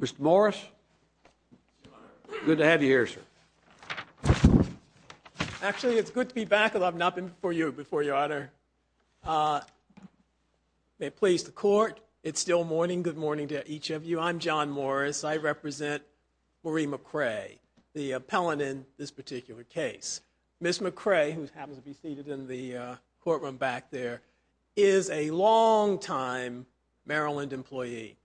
Mr. Morris, good to have you here, sir. Actually, it's good to be back. I've not been before you before, your honor. May it please the court. It's still morning. Good morning to each of you. I'm John Morris. I represent Marie McCray, the appellant in this particular case. Ms. McCray, who happens to be seated in the courtroom back there, is a longtime Maryland employee.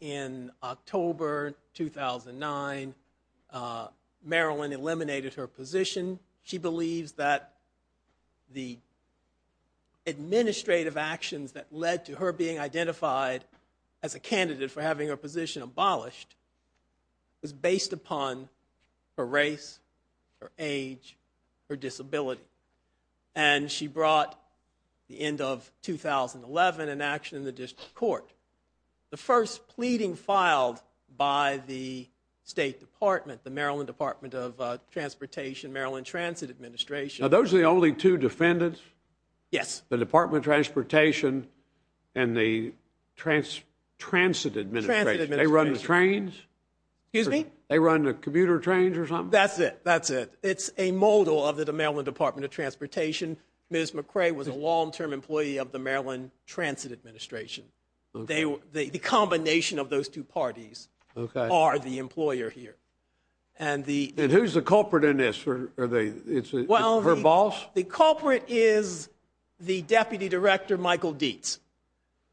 In October 2009, Maryland eliminated her position. She believes that the administrative actions that led to her being identified as a candidate for having her position abolished was based upon her race, her age, her disability. She brought, at the end of 2011, an action in the district court. The first pleading filed by the State Department, the Maryland Department of Transportation, Maryland Transit Administration Are those the only two defendants? Yes. The Department of Transportation and the Transit Administration. They run the trains? Excuse me? They run the commuter trains or something? That's it. That's it. It's a model of the Maryland Department of Transportation. Ms. McCray was a long-term employee of the Maryland Transit Administration. The combination of those two parties are the employer here. And the... And who's the culprit in this? It's her boss? Well, the culprit is the deputy director, Michael Dietz,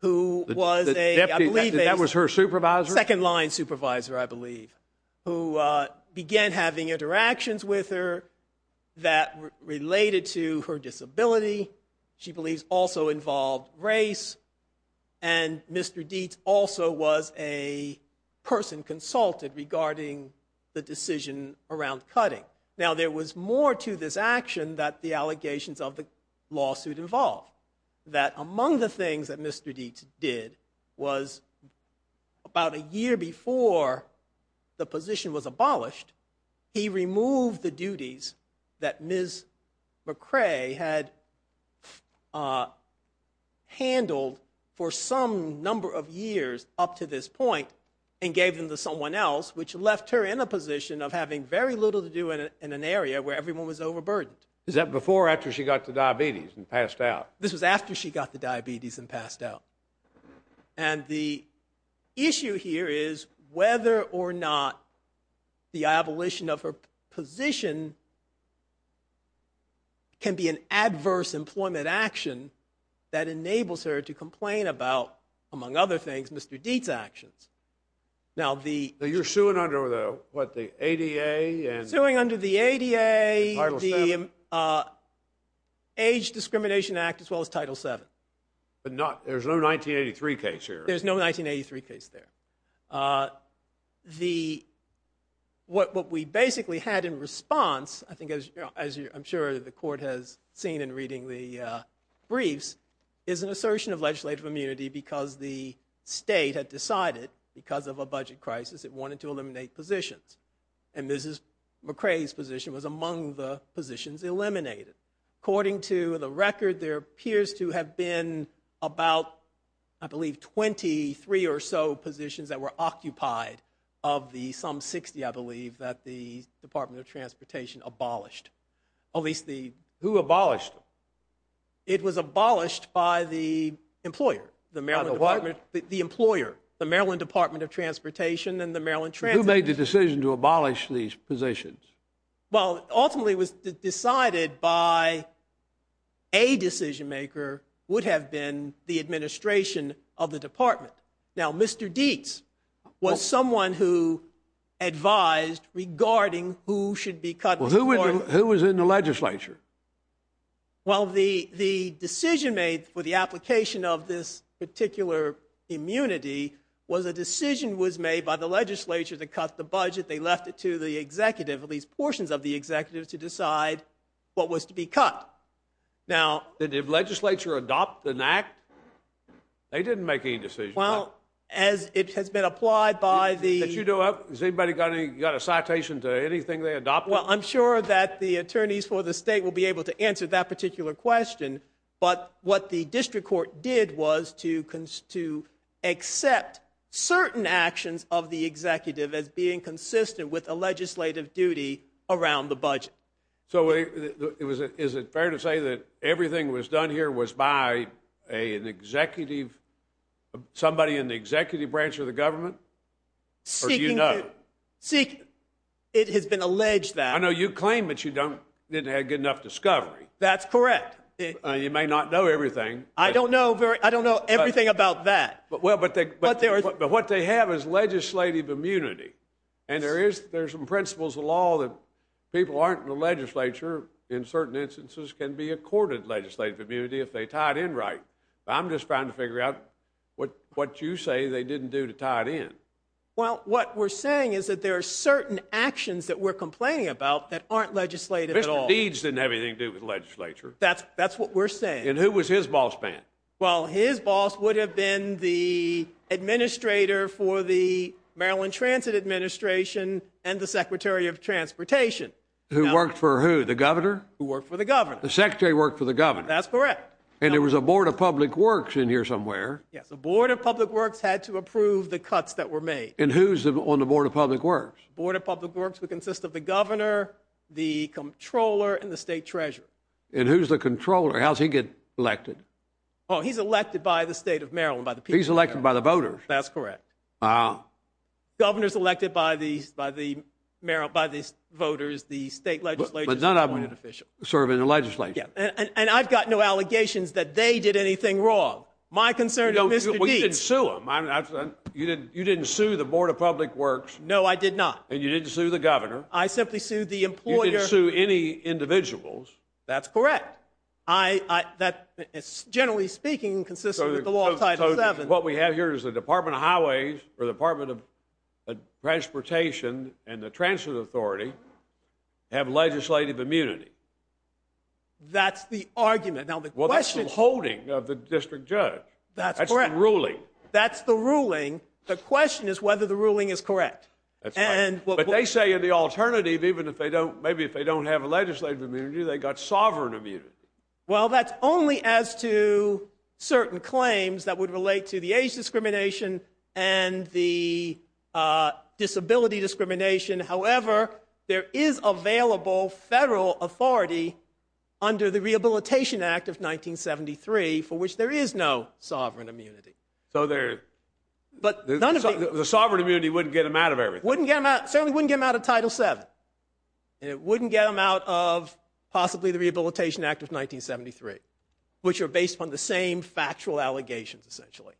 who was a, I believe... That was her supervisor? Second-line supervisor, I believe, who began having interactions with her that related to her disability. She believes also involved race. And Mr. Dietz also was a person consulted regarding the decision around cutting. Now, there was more to this action that the allegations of the year before the position was abolished, he removed the duties that Ms. McCray had handled for some number of years up to this point and gave them to someone else, which left her in a position of having very little to do in an area where everyone was overburdened. Is that before or after she got the diabetes and passed out? This was after she got the diabetes and passed out. And the issue here is whether or not the abolition of her position can be an adverse employment action that enables her to complain about, among other things, Mr. Dietz's actions. Now, the... You're suing under the, what, the ADA and... As well as Title VII. But not... There's no 1983 case here. There's no 1983 case there. The... What we basically had in response, I think, as I'm sure the court has seen in reading the briefs, is an assertion of legislative immunity because the state had decided, because of a budget crisis, it wanted to eliminate positions. And Mrs. McCray's position was among the positions eliminated. According to the record, there appears to have been about, I believe, 23 or so positions that were occupied of the some 60, I believe, that the Department of Transportation abolished. At least the... Who abolished them? It was abolished by the employer. The Maryland Department... By the what? The employer, the Maryland Department of Transportation and the Maryland Transit. Who made the decision to abolish these positions? Well, ultimately, it was decided by... A decision maker would have been the administration of the department. Now, Mr. Dietz was someone who advised regarding who should be cut... Well, who was in the legislature? Well, the decision made for the application of this particular immunity was a decision was made by the legislature to cut the budget. They left it to the executive, at least portions of the executive, to decide what was to be cut. Now... Did the legislature adopt an act? They didn't make any decisions. Well, as it has been applied by the... Did you do... Has anybody got a citation to anything they adopted? Well, I'm sure that the attorneys for the state will be able to answer that particular question. But what the district court did was to accept certain actions of the executive as being consistent with a legislative duty around the budget. So, is it fair to say that everything was done here was by an executive... Somebody in the executive branch of the government? Seeking to... Or do you know? Seeking... It has been alleged that... I know you claim that you don't... Didn't have good enough discovery. That's correct. You may not know everything. I don't know very... I don't know everything about that. Well, but what they have is legislative immunity. And there is... There's some principles of law that people aren't in the legislature, in certain instances, can be accorded legislative immunity if they tie it in right. I'm just trying to figure out what you say they didn't do to tie it in. Well, what we're saying is that there are certain actions that we're complaining about that aren't legislative at all. Mr. Deeds didn't have anything to do with the legislature. That's what we're saying. And who was his boss, then? Well, his boss would have been the administrator for the Maryland Transit Administration and the Secretary of Transportation. Who worked for who? The governor? Who worked for the governor. The secretary worked for the governor. That's correct. And there was a Board of Public Works in here somewhere. Yes, the Board of Public Works had to approve the cuts that were made. And who's on the Board of Public Works? Board of Public Works would consist of the governor, the comptroller, and the state treasurer. And who's the comptroller? How does he get elected? Oh, he's elected by the state of Maryland, by the people. He's elected by the voters. That's correct. Governors elected by the voters, the state legislatures. But none of them serve in the legislature. And I've got no allegations that they did anything wrong. My concern is Mr. Deeds. Well, you didn't sue him. You didn't sue the Board of Public Works. No, I did not. And you didn't sue the governor. I simply sued the employer. You didn't sue any individuals. That's correct. Generally speaking, consistent with the law of Title VII. So what we have here is the Department of Highways, or the Department of Transportation, and the Transit Authority have legislative immunity. That's the argument. Now, the question is... Well, that's the holding of the district judge. That's correct. That's the ruling. That's the ruling. The question is whether the ruling is correct. But they say in the alternative, even if they don't... Maybe if they don't have a legislative immunity, they got sovereign immunity. Well, that's only as to certain claims that would relate to the age discrimination and the disability discrimination. However, there is available federal authority under the Rehabilitation Act of 1973, for which there is no sovereign immunity. So there... But none of the... The sovereign immunity wouldn't get them out of everything. Wouldn't get them out. Certainly wouldn't get them out of Title VII. And it wouldn't get them out of possibly the Rehabilitation Act of 1973, which are based upon the same factual allegations, essentially.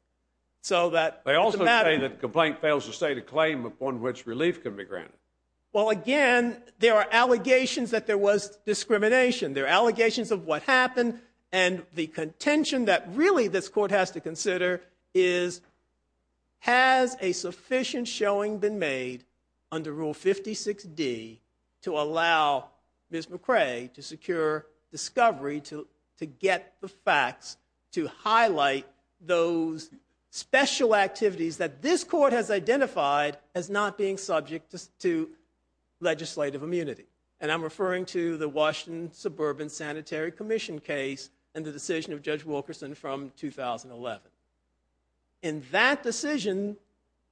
So that... They also say that the complaint fails to state a claim upon which relief can be granted. Well, again, there are allegations that there was discrimination. There are allegations of what happened. And the contention that really this court has to consider is, has a sufficient showing been made under Rule 56D to allow Ms. McRae to secure discovery to get the facts, to highlight those special activities that this court has identified as not being subject to legislative immunity. And I'm referring to the Washington Suburban Sanitary Commission case and the decision of Judge Wilkerson from 2011. In that decision,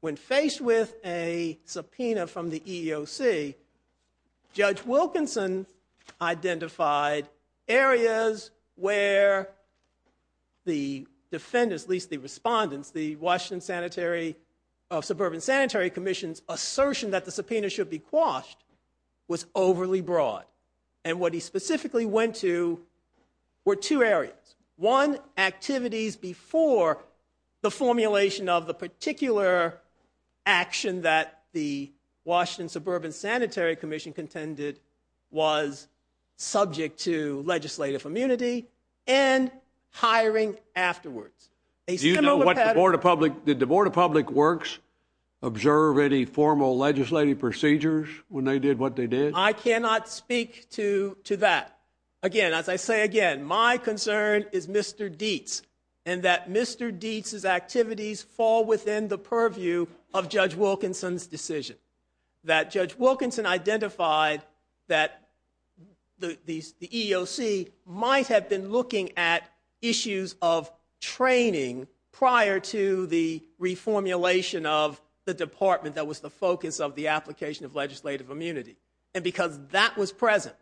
when faced with a subpoena from the EEOC, Judge Wilkerson identified areas where the defendants, at least the respondents, the Washington Sanitary... Suburban Sanitary Commission's assertion that the subpoena should be quashed was overly broad. And what he specifically went to were two areas. One, activities before the formulation of the particular action that the Washington Suburban Sanitary Commission contended was subject to legislative immunity and hiring afterwards. Do you know what the Board of Public... Did the Board of Public Works observe any formal legislative procedures when they did what they did? I cannot speak to that. Again, as I say again, my concern is Mr. Dietz and that Mr. Dietz's activities fall within the purview of Judge Wilkerson's decision. That Judge Wilkerson identified that the EEOC might have been looking at issues of training prior to the reformulation of the department that was the focus of the application of legislative immunity. And because that was present,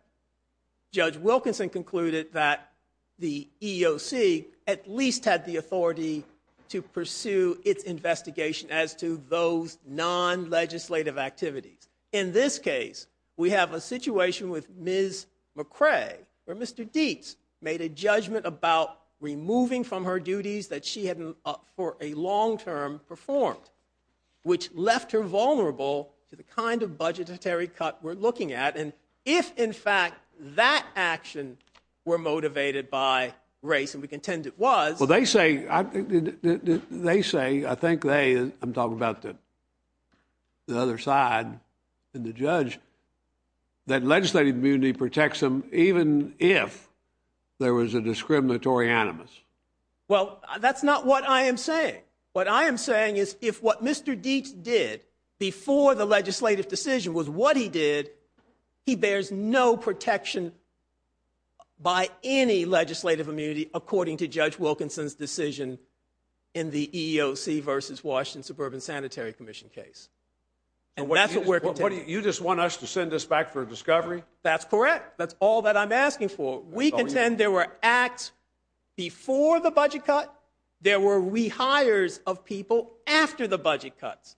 Judge Wilkerson concluded that the EEOC at least had the authority to pursue its investigation as to those non-legislative activities. In this case, we have a situation with Ms. McRae where Mr. Dietz made a judgment about removing from her duties that she had for a long-term performed, which left her vulnerable to the kind of budgetary cut we're looking at. And if, in fact, that action were motivated by race, and we contend it was... Well, they say... They say, I think they... I'm talking about the other side and the judge, that legislative immunity protects them even if there was a discriminatory animus. Well, that's not what I am saying. What I am saying is if what Mr. Dietz did before the legislative decision was what he did, he bears no protection by any legislative immunity according to Judge Wilkerson's decision in the EEOC versus Washington Suburban Sanitary Commission case. And that's what we're contending. You just want us to send us back for a discovery? That's correct. That's all that I'm asking for. We contend there were acts before the budget cut, there were rehires of people after the budget cuts.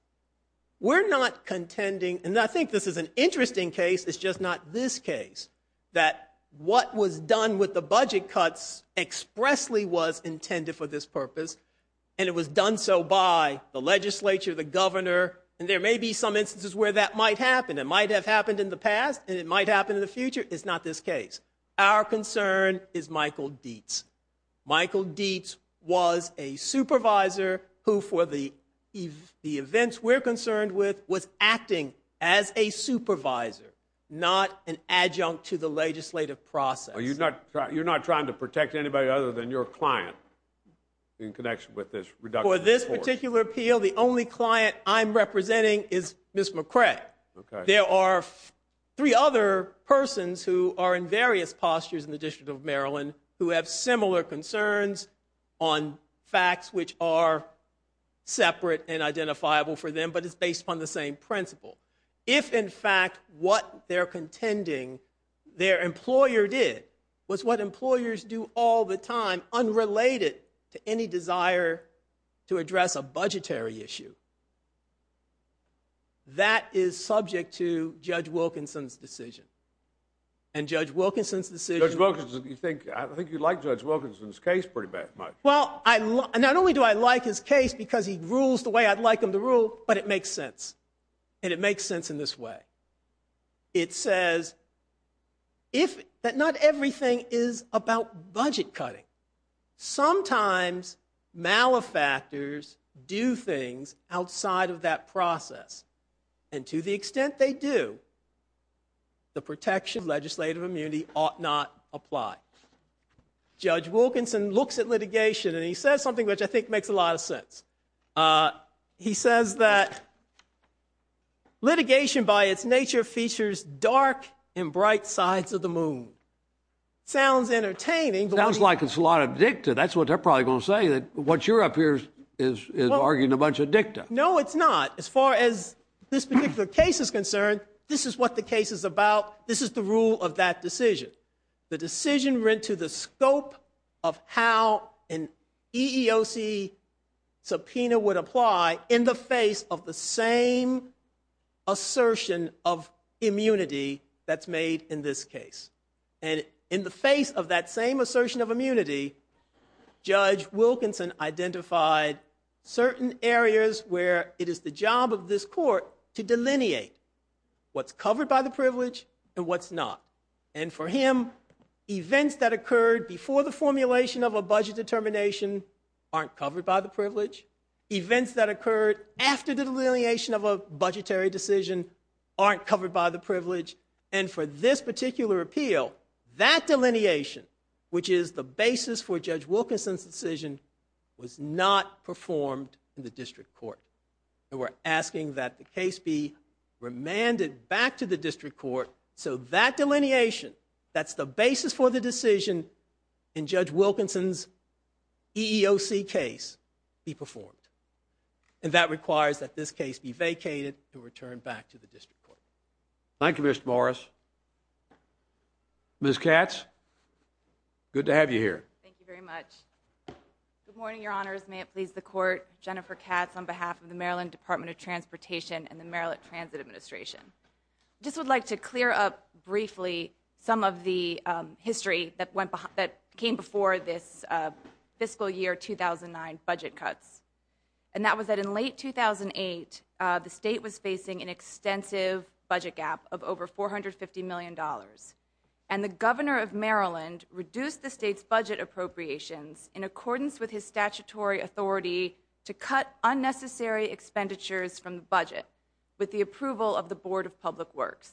We're not contending, and I think this is an interesting case, it's just not this case, that what was done with the budget cuts expressly was intended for this purpose, and it was done so by the legislature, the governor, and there may be some instances where that might happen. It might have happened in the past, and it might happen in the future. It's not this case. Our concern is Michael Dietz. Michael Dietz was a supervisor who, for the events we're concerned with, was acting as a supervisor, not an adjunct to the legislative process. You're not trying to protect anybody other than your client in connection with this reduction? For this particular appeal, the only client I'm representing is Ms. McCray. There are three other persons who are in various postures in the District of Maryland who have similar concerns on facts which are separate and identifiable for them, but it's based upon the same principle. If, in fact, what they're contending their employer did was what employers do all the time, unrelated to any desire to address a budgetary issue, that is subject to Judge Wilkinson's decision, and Judge Wilkinson's decision... Judge Wilkinson, you think... I think you like Judge Wilkinson's case pretty much. Well, not only do I like his case because he rules the way I'd like him to rule, but it makes sense, and it makes sense in this way. It says that not everything is about budget cutting. Sometimes, malefactors do things outside of that process, and to the extent they do, the protection of legislative immunity ought not apply. Judge Wilkinson looks at litigation, and he says something which I think makes a lot of sense. He says that litigation, by its nature, features dark and bright sides of the moon. It sounds entertaining, but... Sounds like it's a lot addictive. That's what they're probably going to say, that what you're up here is arguing a bunch of dicta. No, it's not. As far as this particular case is concerned, this is what the case is about. This is the rule of that decision. The decision went to the scope of how an EEOC subpoena would apply in the face of the same assertion of immunity that's made in this case. And in the face of that same assertion of immunity, Judge Wilkinson identified certain areas where it is the job of this court to delineate what's covered by the privilege and what's not. And for him, events that occurred before the formulation of a budget determination aren't covered by the privilege. Events that occurred after the delineation of a budgetary decision aren't covered by the privilege. And for this particular appeal, that delineation, which is the basis for Judge Wilkinson's decision, was not performed in the district court. And we're asking that the case be remanded back to the district court so that delineation that's the basis for the decision in Judge Wilkinson's EEOC case be performed. And that requires that this case be vacated and returned back to the district court. Thank you, Mr. Morris. Ms. Katz, good to have you here. Thank you very much. Good morning, your honors. May it please the court. Jennifer Katz on behalf of the Maryland Department of Transportation and the Maryland Transit Administration. I just would like to clear up briefly some of the history that came before this fiscal year 2009 budget cuts. And that was that in late 2008, the state was facing an extensive budget gap of over $450 million. And the governor of Maryland reduced the state's budget appropriations in accordance with his statutory authority to cut unnecessary expenditures from the budget with the approval of the Board of Public Works.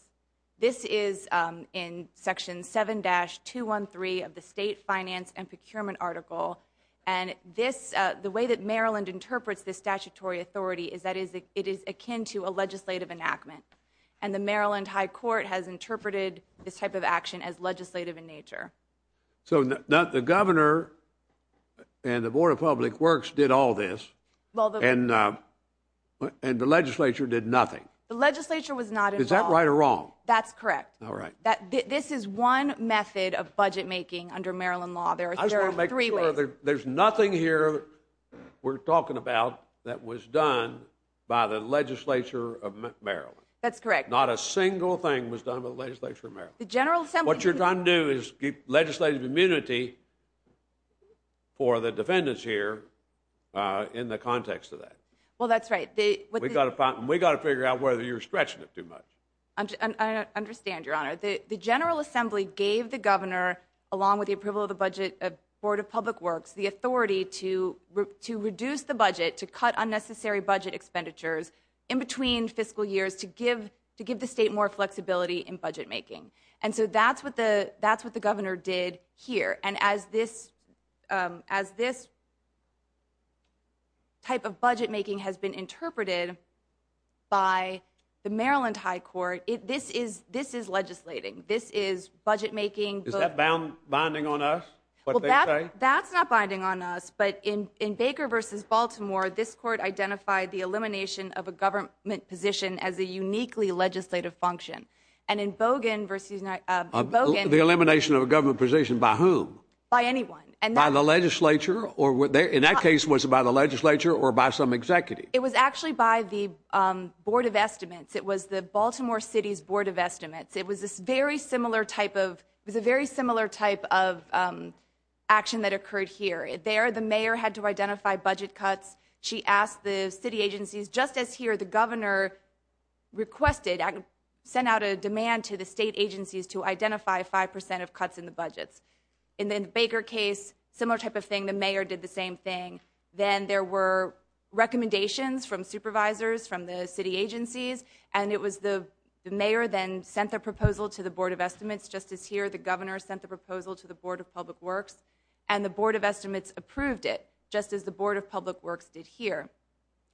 This is in Section 7-213 of the State Finance and Procurement Article. And the way that Maryland interprets this statutory authority is it is akin to a legislative enactment. And the Maryland High Court has interpreted this type of action as legislative in nature. So the governor and the Board of Public Works did all this and the legislature did nothing. The legislature was not involved. Is that right or wrong? That's correct. This is one method of budget making under Maryland law. There are three ways. I just want to make sure there's nothing here we're talking about that was done by the legislature of Maryland. That's correct. Not a single thing was done by the legislature of Maryland. What you're trying to do is give legislative immunity for the defendants here in the context of that. Well, that's right. We've got to figure out whether you're stretching it too much. I understand, Your Honor. The General Assembly gave the governor, along with the approval of the budget of the Board of Public Works, the authority to reduce the budget, to cut unnecessary budget expenditures in between fiscal years to give the state more flexibility in budget making. And so that's what the governor did here. And as this type of budget making has been interpreted by the Maryland High Court, this is legislating. This is budget making. Is that binding on us, what they say? That's not binding on us, but in Baker v. Baltimore, this court identified the elimination of a government position as a uniquely legislative function. And in Bogan v. The elimination of a government position by whom? By anyone. And by the legislature, or in that case, was it by the legislature or by some executive? It was actually by the Board of Estimates. It was the Baltimore City's Board of Estimates. It was a very similar type of action that occurred here. There, the mayor had to identify budget cuts. She asked the city agencies, just as here, the governor requested, sent out a demand to the state agencies to identify 5% of cuts in the budgets. And then the Baker case, similar type of thing, the mayor did the same thing. Then there were recommendations from supervisors, from the city agencies. And it was the mayor then sent the proposal to the Board of Estimates, just as here, the governor sent the proposal to the Board of Public Works. And the Board of Estimates approved it, just as the Board of Public Works did here.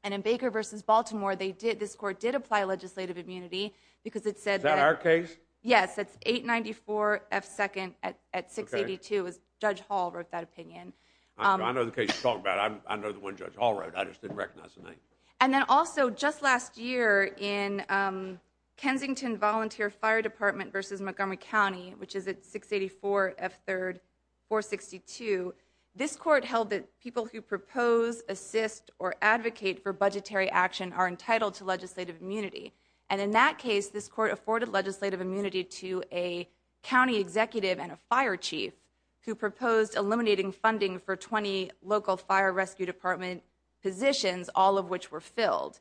And in Baker versus Baltimore, they did, this court did apply legislative immunity because it said- Is that our case? Yes, that's 894 F2nd at 682, as Judge Hall wrote that opinion. I know the case you're talking about. I know the one Judge Hall wrote. I just didn't recognize the name. And then also, just last year, in Kensington Volunteer Fire Department versus Montgomery County, which is at 684 F3rd, 462, this court held that people who propose, assist, or advocate for budgetary action are entitled to legislative immunity. And in that case, this court afforded legislative immunity to a county executive and a fire chief who proposed eliminating funding for 20 local fire rescue department positions, all of which were filled.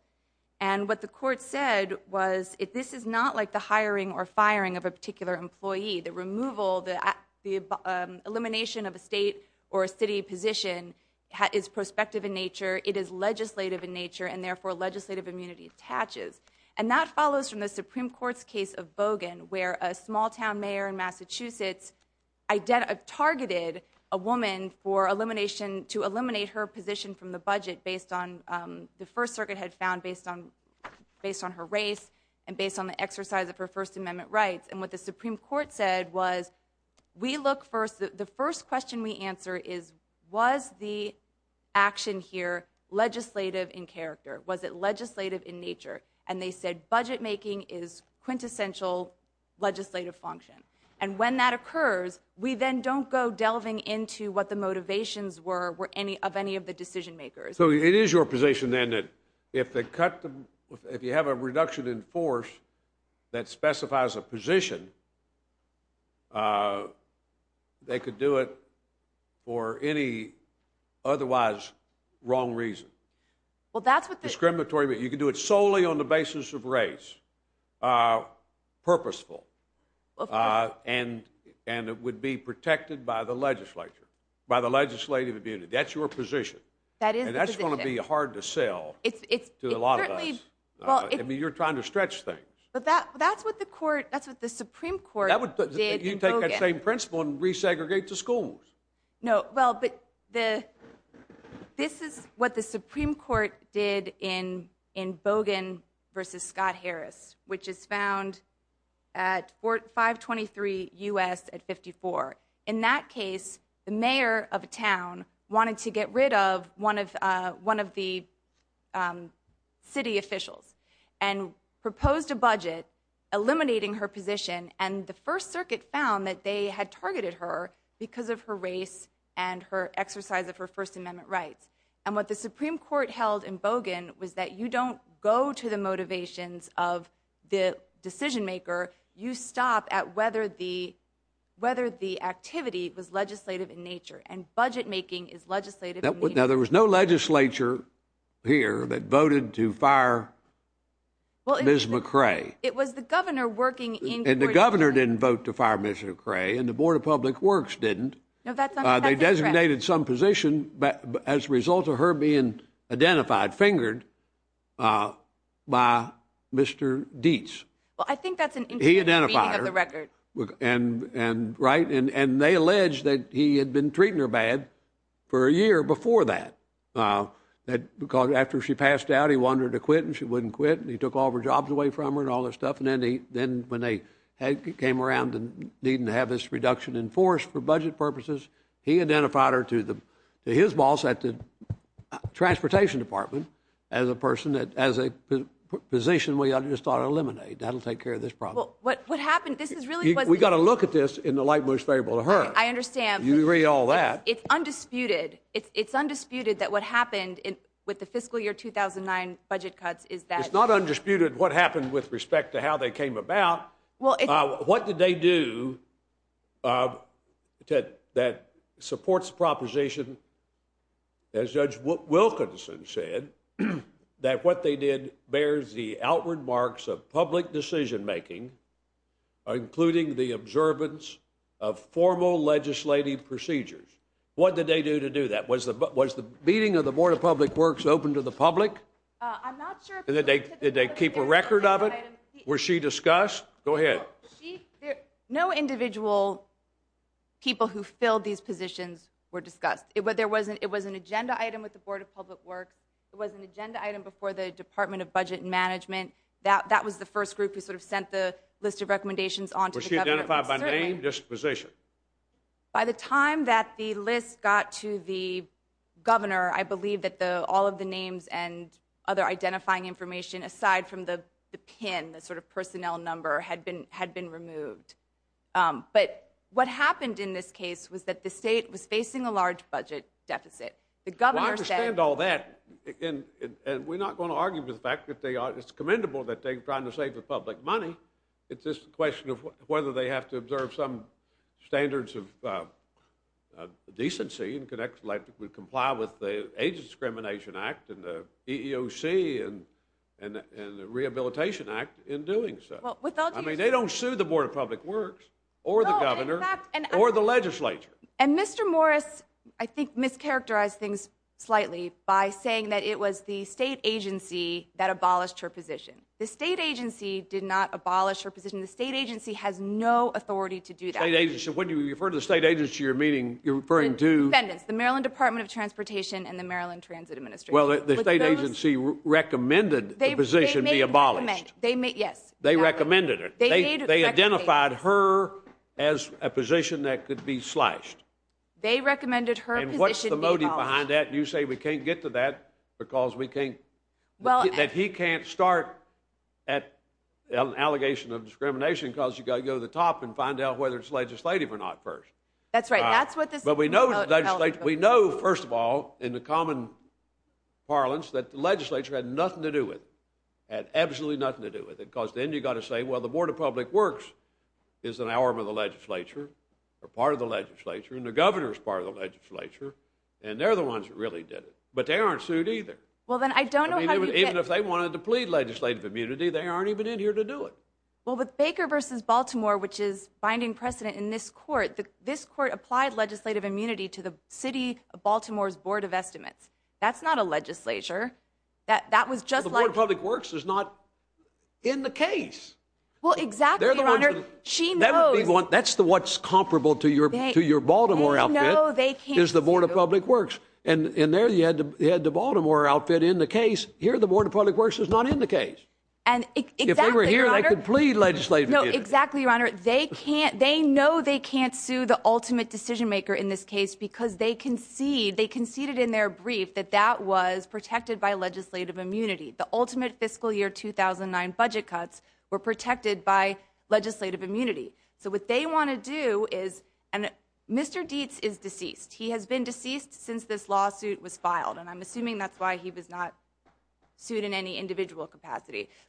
And what the court said was, this is not like the hiring or firing of a particular employee. The removal, the elimination of a state or a city position is prospective in nature. It is legislative in nature, and therefore legislative immunity attaches. And that follows from the Supreme Court's case of Bogan, where a small town mayor in Massachusetts targeted a woman for elimination, to eliminate her position from the budget based on the First Circuit had found based on her race and based on the exercise of her First Amendment rights. And what the Supreme Court said was, the first question we answer is, was the action here legislative in character? Was it legislative in nature? And they said, budget making is quintessential legislative function. And when that occurs, we then don't go delving into what the motivations were of any of the decision makers. So it is your position then that if you have a reduction in force that specifies a position, they could do it for any otherwise wrong reason. Well, that's what the... Discriminatory, but you can do it solely on the basis of race. Purposeful. And it would be protected by the legislature, by the legislative immunity. That's your position. That is the position. And that's going to be hard to sell to a lot of us. It certainly... Well, I mean, you're trying to stretch things. But that's what the court... That's what the Supreme Court... That would... You take that same principle and resegregate the schools. No, well, but the... This is what the Supreme Court did in Bogan versus Scott Harris, which is found at 523 U.S. at 54. In that case, the mayor of a town wanted to get rid of one of the city officials and proposed a budget eliminating her position. And the First Circuit found that they had targeted her because of her race and her exercise of her First Amendment rights. And what the Supreme Court held in Bogan was that you don't go to the motivations of the decision maker. You stop at whether the... Whether the activity was legislative in nature and budget making is legislative. Now, there was no legislature here that voted to fire Ms. McRae. It was the governor working in... And the governor didn't vote to fire Ms. McRae and the Board of Public Works didn't. No, that's not... They designated some position as a result of her being identified, fingered by Mr. Dietz. Well, I think that's an... He identified her. ...reading of the record. And, right? And they alleged that he had been treating her bad for a year before that. That because after she passed out, he wanted her to quit and she wouldn't quit. And he took all her jobs away from her and all that stuff. And then when they came around and needed to have this reduction enforced for budget purposes, he identified her to his boss at the Transportation Department as a person that... As a position we just ought to eliminate. That'll take care of this problem. Well, what happened... This is really... We got to look at this in the light most favorable to her. I understand. You read all that. It's undisputed. It's undisputed that what happened with the fiscal year 2009 budget cuts is that... It's not undisputed what happened with respect to how they came about. What did they do that supports the proposition, as Judge Wilkinson said, that what they did bears the outward marks of public decision-making, including the observance of formal legislative procedures. What did they do to do that? Was the meeting of the Board of Public Works open to the public? I'm not sure... Did they keep a record of it? Was she discussed? Go ahead. No individual people who filled these positions were discussed. It was an agenda item with the Board of Public Works. It was an agenda item before the Department of Budget Management. That was the first group who sort of sent the list of recommendations on to the government. Was she identified by name, disposition? By the time that the list got to the governor, I believe that all of the names and other identifying information, aside from the PIN, the sort of personnel number, had been removed. But what happened in this case was that the state was facing a large budget deficit. The governor said... Well, I understand all that. And we're not going to argue for the fact that it's commendable that they're trying to save the public money. It's just a question of whether they have to observe some standards of decency and could comply with the Age Discrimination Act and the EEOC and the Rehabilitation Act in doing so. I mean, they don't sue the Board of Public Works or the governor or the legislature. And Mr. Morris, I think, mischaracterized things slightly by saying that it was the state agency that abolished her position. The state agency did not abolish her position. The state agency has no authority to do that. State agency? When you refer to the state agency, you're meaning... You're referring to... Defendants. The Maryland Department of Transportation and the Maryland Transit Administration. Well, the state agency recommended the position be abolished. They may... Yes. They recommended it. They identified her as a position that could be slashed. They recommended her position be abolished. And what's the motive behind that? You say we can't get to that because we can't... That he can't start at an allegation of discrimination because you got to go to the top and find out whether it's legislative or not first. That's right. That's what this... But we know the legislature... We know, first of all, in the common parlance, that the legislature had nothing to do with it. Had absolutely nothing to do with it because then you got to say, well, the Board of Public Works is an arm of the legislature or part of the legislature and the governor's part of the legislature and they're the ones that really did it. But they aren't sued either. Well, then I don't know how you get... Even if they wanted to plead legislative immunity, they aren't even in here to do it. Well, with Baker versus Baltimore, which is finding precedent in this court, this court applied legislative immunity to the city of Baltimore's Board of Estimates. That's not a legislature. That was just like... The Board of Public Works is not in the case. Well, exactly, Your Honor. She knows... That's what's comparable to your Baltimore outfit. They know they can't sue. Is the Board of Public Works. And there you had the Baltimore outfit in the case. Here, the Board of Public Works is not in the case. And exactly, Your Honor. If they were here, they could plead legislative immunity. No, exactly, Your Honor. They can't... They know they can't sue the ultimate decision maker in this case because they conceded in their brief that that was protected by legislative immunity. The ultimate fiscal year 2009 budget cuts were protected by legislative immunity. So what they want to do is... And Mr. Dietz is deceased. He has been deceased since this lawsuit was filed. And I'm assuming that's why he was not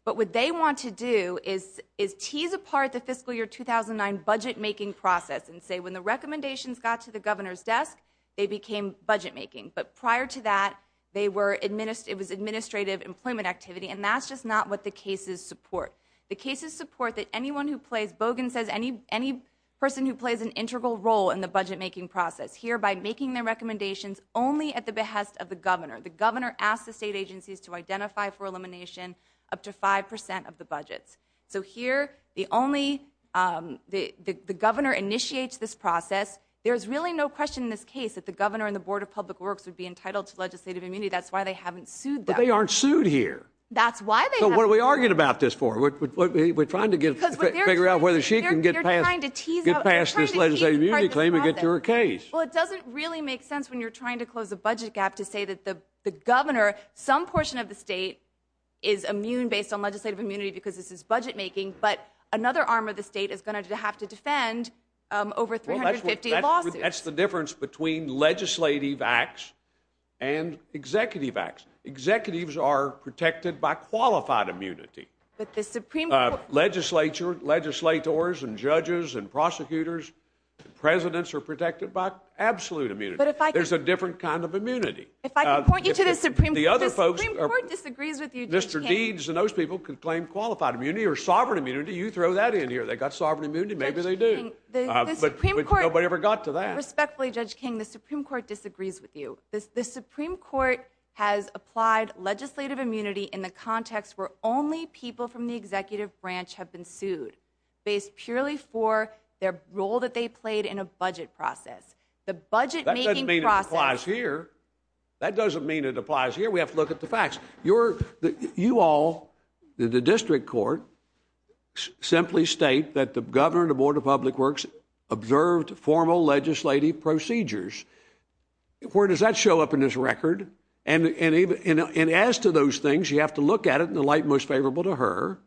But what they want to do is tease apart the fiscal year 2009 budget-making process and say when the recommendations got to the governor's desk, they became budget-making. But prior to that, they were administ... It was administrative employment activity. And that's just not what the cases support. The cases support that anyone who plays... Bogan says any person who plays an integral role in the budget-making process here by making their recommendations only at the behest of the governor. The governor asked the state agencies to identify for elimination up to 5% of the budgets. So here, the only... The governor initiates this process. There's really no question in this case that the governor and the Board of Public Works would be entitled to legislative immunity. That's why they haven't sued them. But they aren't sued here. That's why they haven't... So what are we arguing about this for? We're trying to get... Figure out whether she can get past... They're trying to tease... Get past this legislative immunity claim and get to her case. Well, it doesn't really make sense when you're trying to close a budget gap to say that the governor, some portion of the state, is immune based on legislative immunity because this is budget-making, but another arm of the state is going to have to defend over 350 lawsuits. That's the difference between legislative acts and executive acts. Executives are protected by qualified immunity. But the Supreme Court... Legislature, legislators, and judges, and prosecutors, presidents are protected by absolute immunity. But if I could... There's a different kind of immunity. If I could point you to the Supreme Court... The Supreme Court disagrees with you, Judge King. Mr. Deeds and those people can claim qualified immunity or sovereign immunity. You throw that in here. They got sovereign immunity. Maybe they do. But nobody ever got to that. Respectfully, Judge King, the Supreme Court disagrees with you. The Supreme Court has applied legislative immunity in the context where only people from the executive branch have been sued based purely for their role that they played in a budget process. The budget-making process... That doesn't mean it applies here. That doesn't mean it applies here. We have to look at the facts. You all, the district court, simply state that the governor and the Board of Public Works observed formal legislative procedures. Where does that show up in this record? And as to those things, you have to look at it in the light most favorable to her,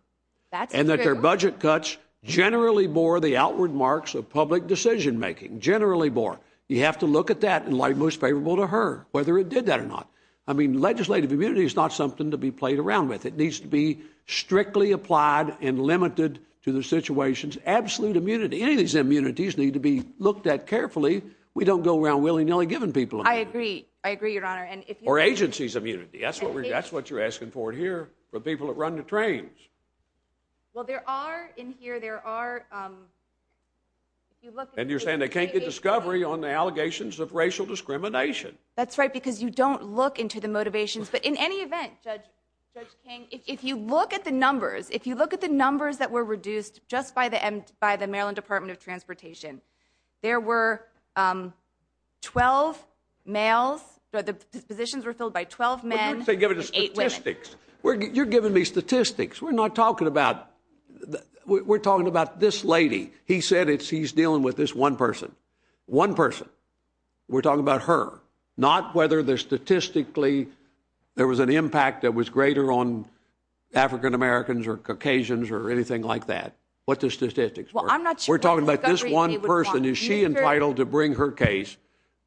and that their budget cuts generally bore the outward marks of public decision-making. Generally bore. You have to look at that in light most favorable to her, whether it did that or not. I mean, legislative immunity is not something to be played around with. It needs to be strictly applied and limited to the situation's absolute immunity. Any of these immunities need to be looked at carefully. We don't go around willy-nilly giving people immunity. I agree. I agree, Your Honor. Or agency's immunity. That's what you're asking for here for people that run the trains. Well, there are... In here, there are... And you're saying they can't get discovery on the allegations of racial discrimination. That's right, because you don't look into the motivations. But in any event, Judge King, if you look at the numbers, if you look at the numbers that were reduced just by the Maryland Department of Transportation, there were 12 males. The positions were filled by 12 men. You're giving me statistics. We're not talking about... We're talking about this lady. He said he's dealing with this one person. One person. We're talking about her, not whether statistically there was an impact that was greater on African-Americans or Caucasians or anything like that. What the statistics were. Well, I'm not sure... We're talking about this one person. Is she entitled to bring her case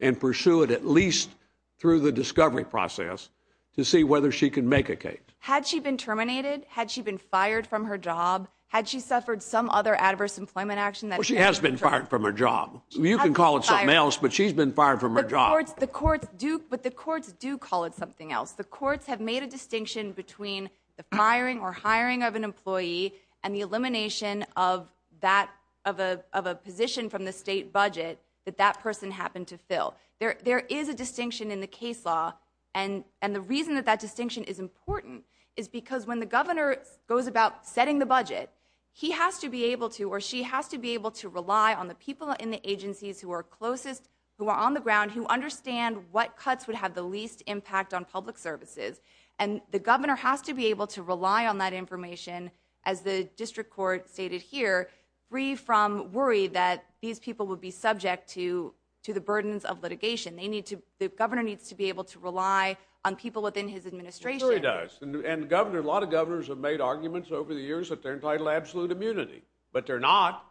and pursue it at least through the discovery process to see whether she can make a case? Had she been terminated? Had she been fired from her job? Had she suffered some other adverse employment action? She has been fired from her job. You can call it something else, but she's been fired from her job. But the courts do call it something else. The courts have made a distinction between the firing or hiring of an employee and the elimination of a position from the state budget that that person happened to fill. There is a distinction in the case law. And the reason that that distinction is important is because when the governor goes about setting the budget, he has to be able to or she has to be able to rely on the people in the agencies who are closest, who are on the ground, who understand what cuts would have the least impact on public services. And the governor has to be able to rely on that information, as the district court stated here, free from worry that these people would be subject to the burdens of litigation. They need to, the governor needs to be able to rely on people within his administration. It really does. And a lot of governors that they're entitled to absolute immunity, but they're not.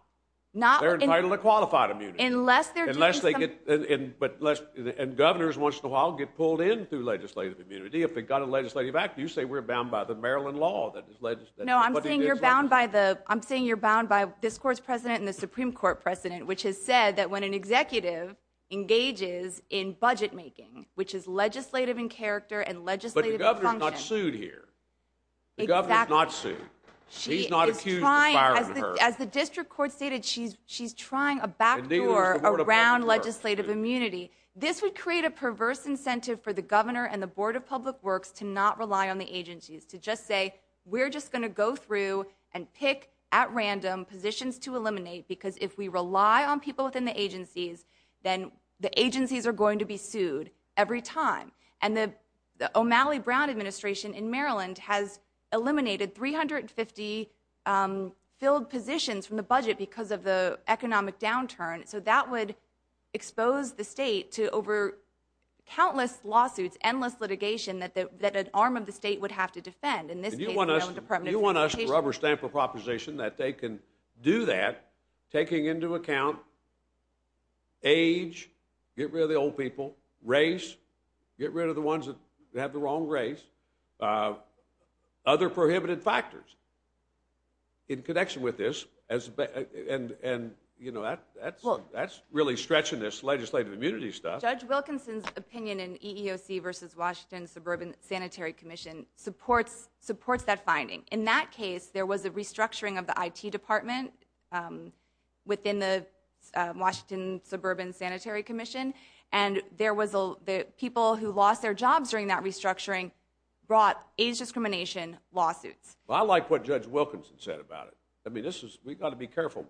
They're entitled to qualified immunity. Unless they're doing something. But let's, and governors once in a while get pulled in through legislative immunity. If they got a legislative act, you say we're bound by the Maryland law. No, I'm saying you're bound by the, I'm saying you're bound by this court's president and the Supreme Court precedent, which has said that when an executive engages in budget making, which is legislative in character and legislative in function. But the governor's not sued here. The governor's not sued. He's not accused of firing her. As the district court stated, she's trying a backdoor around legislative immunity. This would create a perverse incentive for the governor and the board of public works to not rely on the agencies, to just say, we're just going to go through and pick at random positions to eliminate. Because if we rely on people within the agencies, then the agencies are going to be sued every time. And the O'Malley-Brown administration in Maryland has eliminated 350 filled positions from the budget because of the economic downturn. So that would expose the state to over countless lawsuits, endless litigation that an arm of the state would have to defend. In this case, the Maryland Department of Transportation. You want us to rubber stamp a proposition that they can do that, taking into account age, get rid of the old people, race, get rid of the ones that have the wrong race, other prohibited factors in connection with this. And that's really stretching this legislative immunity stuff. Judge Wilkinson's opinion in EEOC versus Washington Suburban Sanitary Commission supports that finding. In that case, there was a restructuring of the IT department within the Washington Suburban Sanitary Commission. And the people who lost their jobs during that restructuring brought age discrimination lawsuits. I like what Judge Wilkinson said about it. We've got to be careful.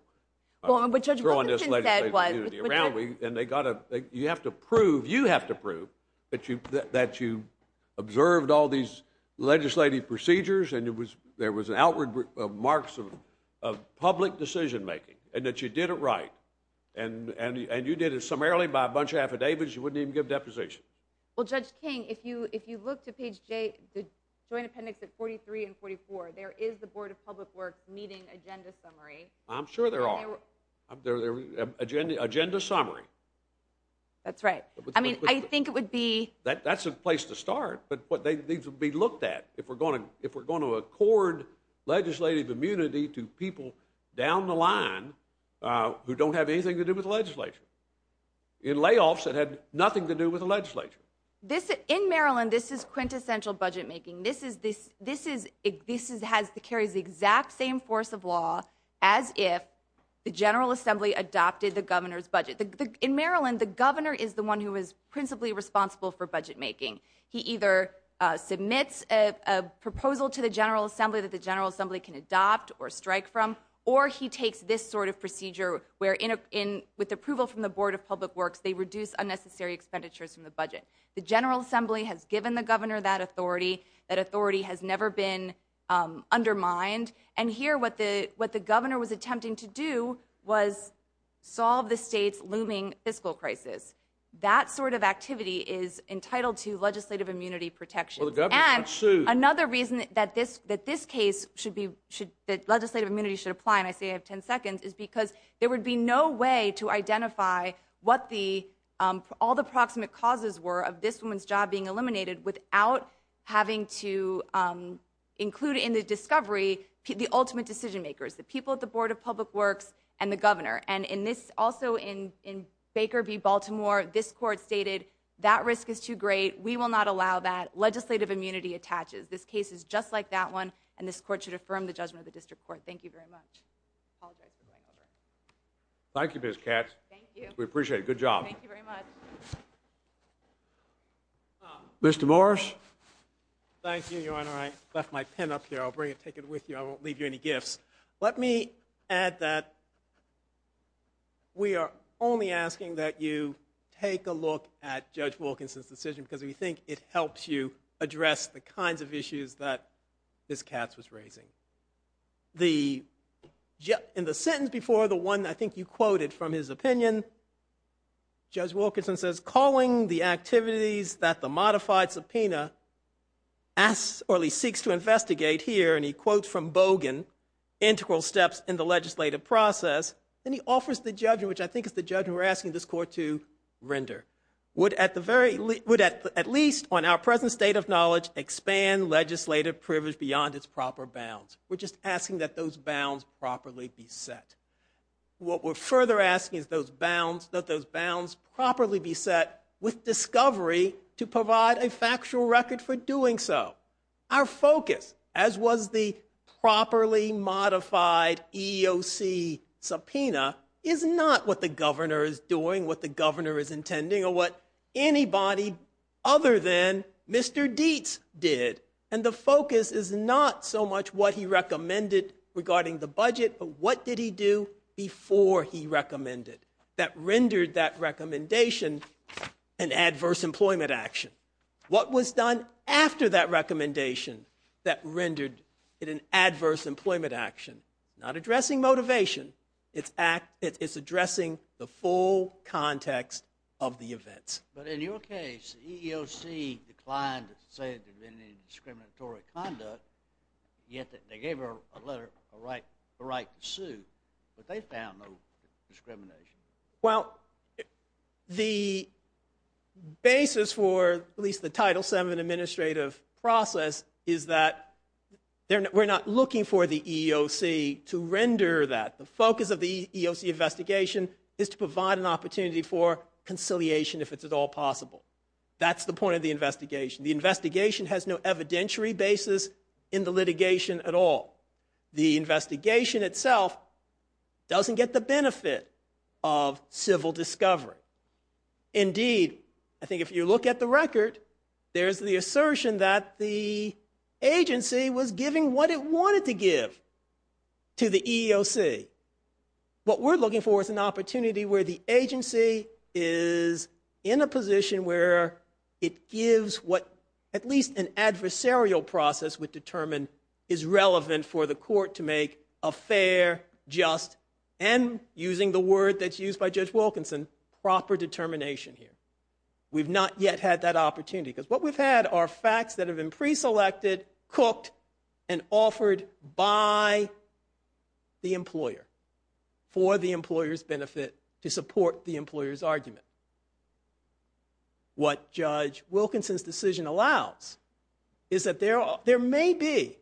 What Judge Wilkinson said was- And you have to prove that you observed all these legislative procedures and there was an outward marks of public decision making and that you did it right. And you did it summarily by a bunch of affidavits. You wouldn't even give deposition. Well, Judge King, if you look to page J, the Joint Appendix at 43 and 44, there is the Board of Public Works meeting agenda summary. I'm sure there are. Agenda summary. That's right. I mean, I think it would be- That's a place to start, but they need to be looked at if we're going to accord legislative immunity to people down the line who don't have anything to do with the legislature. In layoffs, it had nothing to do with the legislature. In Maryland, this is quintessential budget making. This is, this has, carries the exact same force of law as if the General Assembly adopted the governor's budget. In Maryland, the governor is the one who is principally responsible for budget making. He either submits a proposal to the General Assembly that the General Assembly can adopt or strike from, or he takes this sort of procedure where with approval from the Board of Public Works, they reduce unnecessary expenditures from the budget. The General Assembly has given the governor that authority. That authority has never been undermined, and here what the, what the governor was attempting to do was solve the state's looming fiscal crisis. That sort of activity is entitled to legislative immunity protection. Well, the governor can't sue. And another reason that this, that this case should be, should, that legislative immunity should apply, and I say I have 10 seconds, is because there would be no way to identify what the, all the proximate causes were of this woman's job being eliminated without having to include in the discovery the ultimate decision makers, the people at the Board of Public Works and the governor. And in this, also in, in Baker v. Baltimore, this court stated that risk is too great. We will not allow that. Legislative immunity attaches. This case is just like that one, and this court should affirm the judgment of the district court. Thank you very much. Apologize for going over. Thank you, Ms. Katz. Thank you. We appreciate it. Good job. Thank you very much. Mr. Morris. Thank you, Your Honor. Left my pen up here. I'll bring it, take it with you. I won't leave you any gifts. Let me add that we are only asking that you take a look at Judge Wilkinson's decision because we think it helps you address the kinds of issues that Ms. Katz was raising. The, in the sentence before, the one I think you quoted from his opinion, Judge Wilkinson says, calling the activities that the modified subpoena asks, or at least seeks to investigate here, and he quotes from Bogan, integral steps in the legislative process. Then he offers the judgment, which I think is the judgment we're asking this court to render. Would at the very, would at least on our present state of knowledge, expand legislative privilege beyond its proper bounds. We're just asking that those bounds properly be set. What we're further asking is those bounds, that those bounds properly be set with discovery to provide a factual record for doing so. Our focus, as was the properly modified EEOC subpoena, is not what the governor is doing, what the governor is intending, or what anybody other than Mr. Dietz did. And the focus is not so much what he recommended regarding the budget, but what did he do before he recommended. That rendered that recommendation an adverse employment action. What was done after that recommendation that rendered it an adverse employment action, not addressing motivation, it's addressing the full context of the events. But in your case, the EEOC declined to say that there had been any discriminatory conduct, yet they gave her a letter, a right to sue, but they found no discrimination. Well, the basis for at least the Title VII administrative process is that we're not looking for the EEOC to render that. The focus of the EEOC investigation is to provide an opportunity for conciliation if it's at all possible. That's the point of the investigation. The investigation has no evidentiary basis in the litigation at all. The investigation itself doesn't get the benefit of civil discovery. Indeed, I think if you look at the record, there's the assertion that the agency was giving what it wanted to give to the EEOC. What we're looking for is an opportunity where the agency is in a position what at least an adversarial process would determine is relevant for the court to make a fair, just, and using the word that's used by Judge Wilkinson, proper determination here. We've not yet had that opportunity because what we've had are facts that have been preselected, cooked, and offered by the employer for the employer's benefit to support the employer's argument. What Judge Wilkinson's decision allows is that there may be,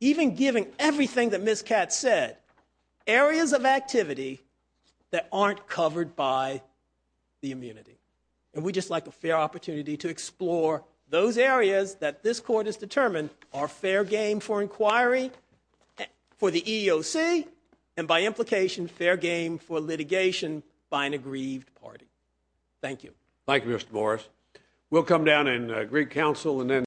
even given everything that Ms. Katz said, areas of activity that aren't covered by the immunity. And we'd just like a fair opportunity to explore those areas that this court has determined are fair game for inquiry for the EEOC and by implication, fair game for litigation by an aggrieved party. Thank you. Thank you, Mr. Morris. We'll come down and greet counsel and then.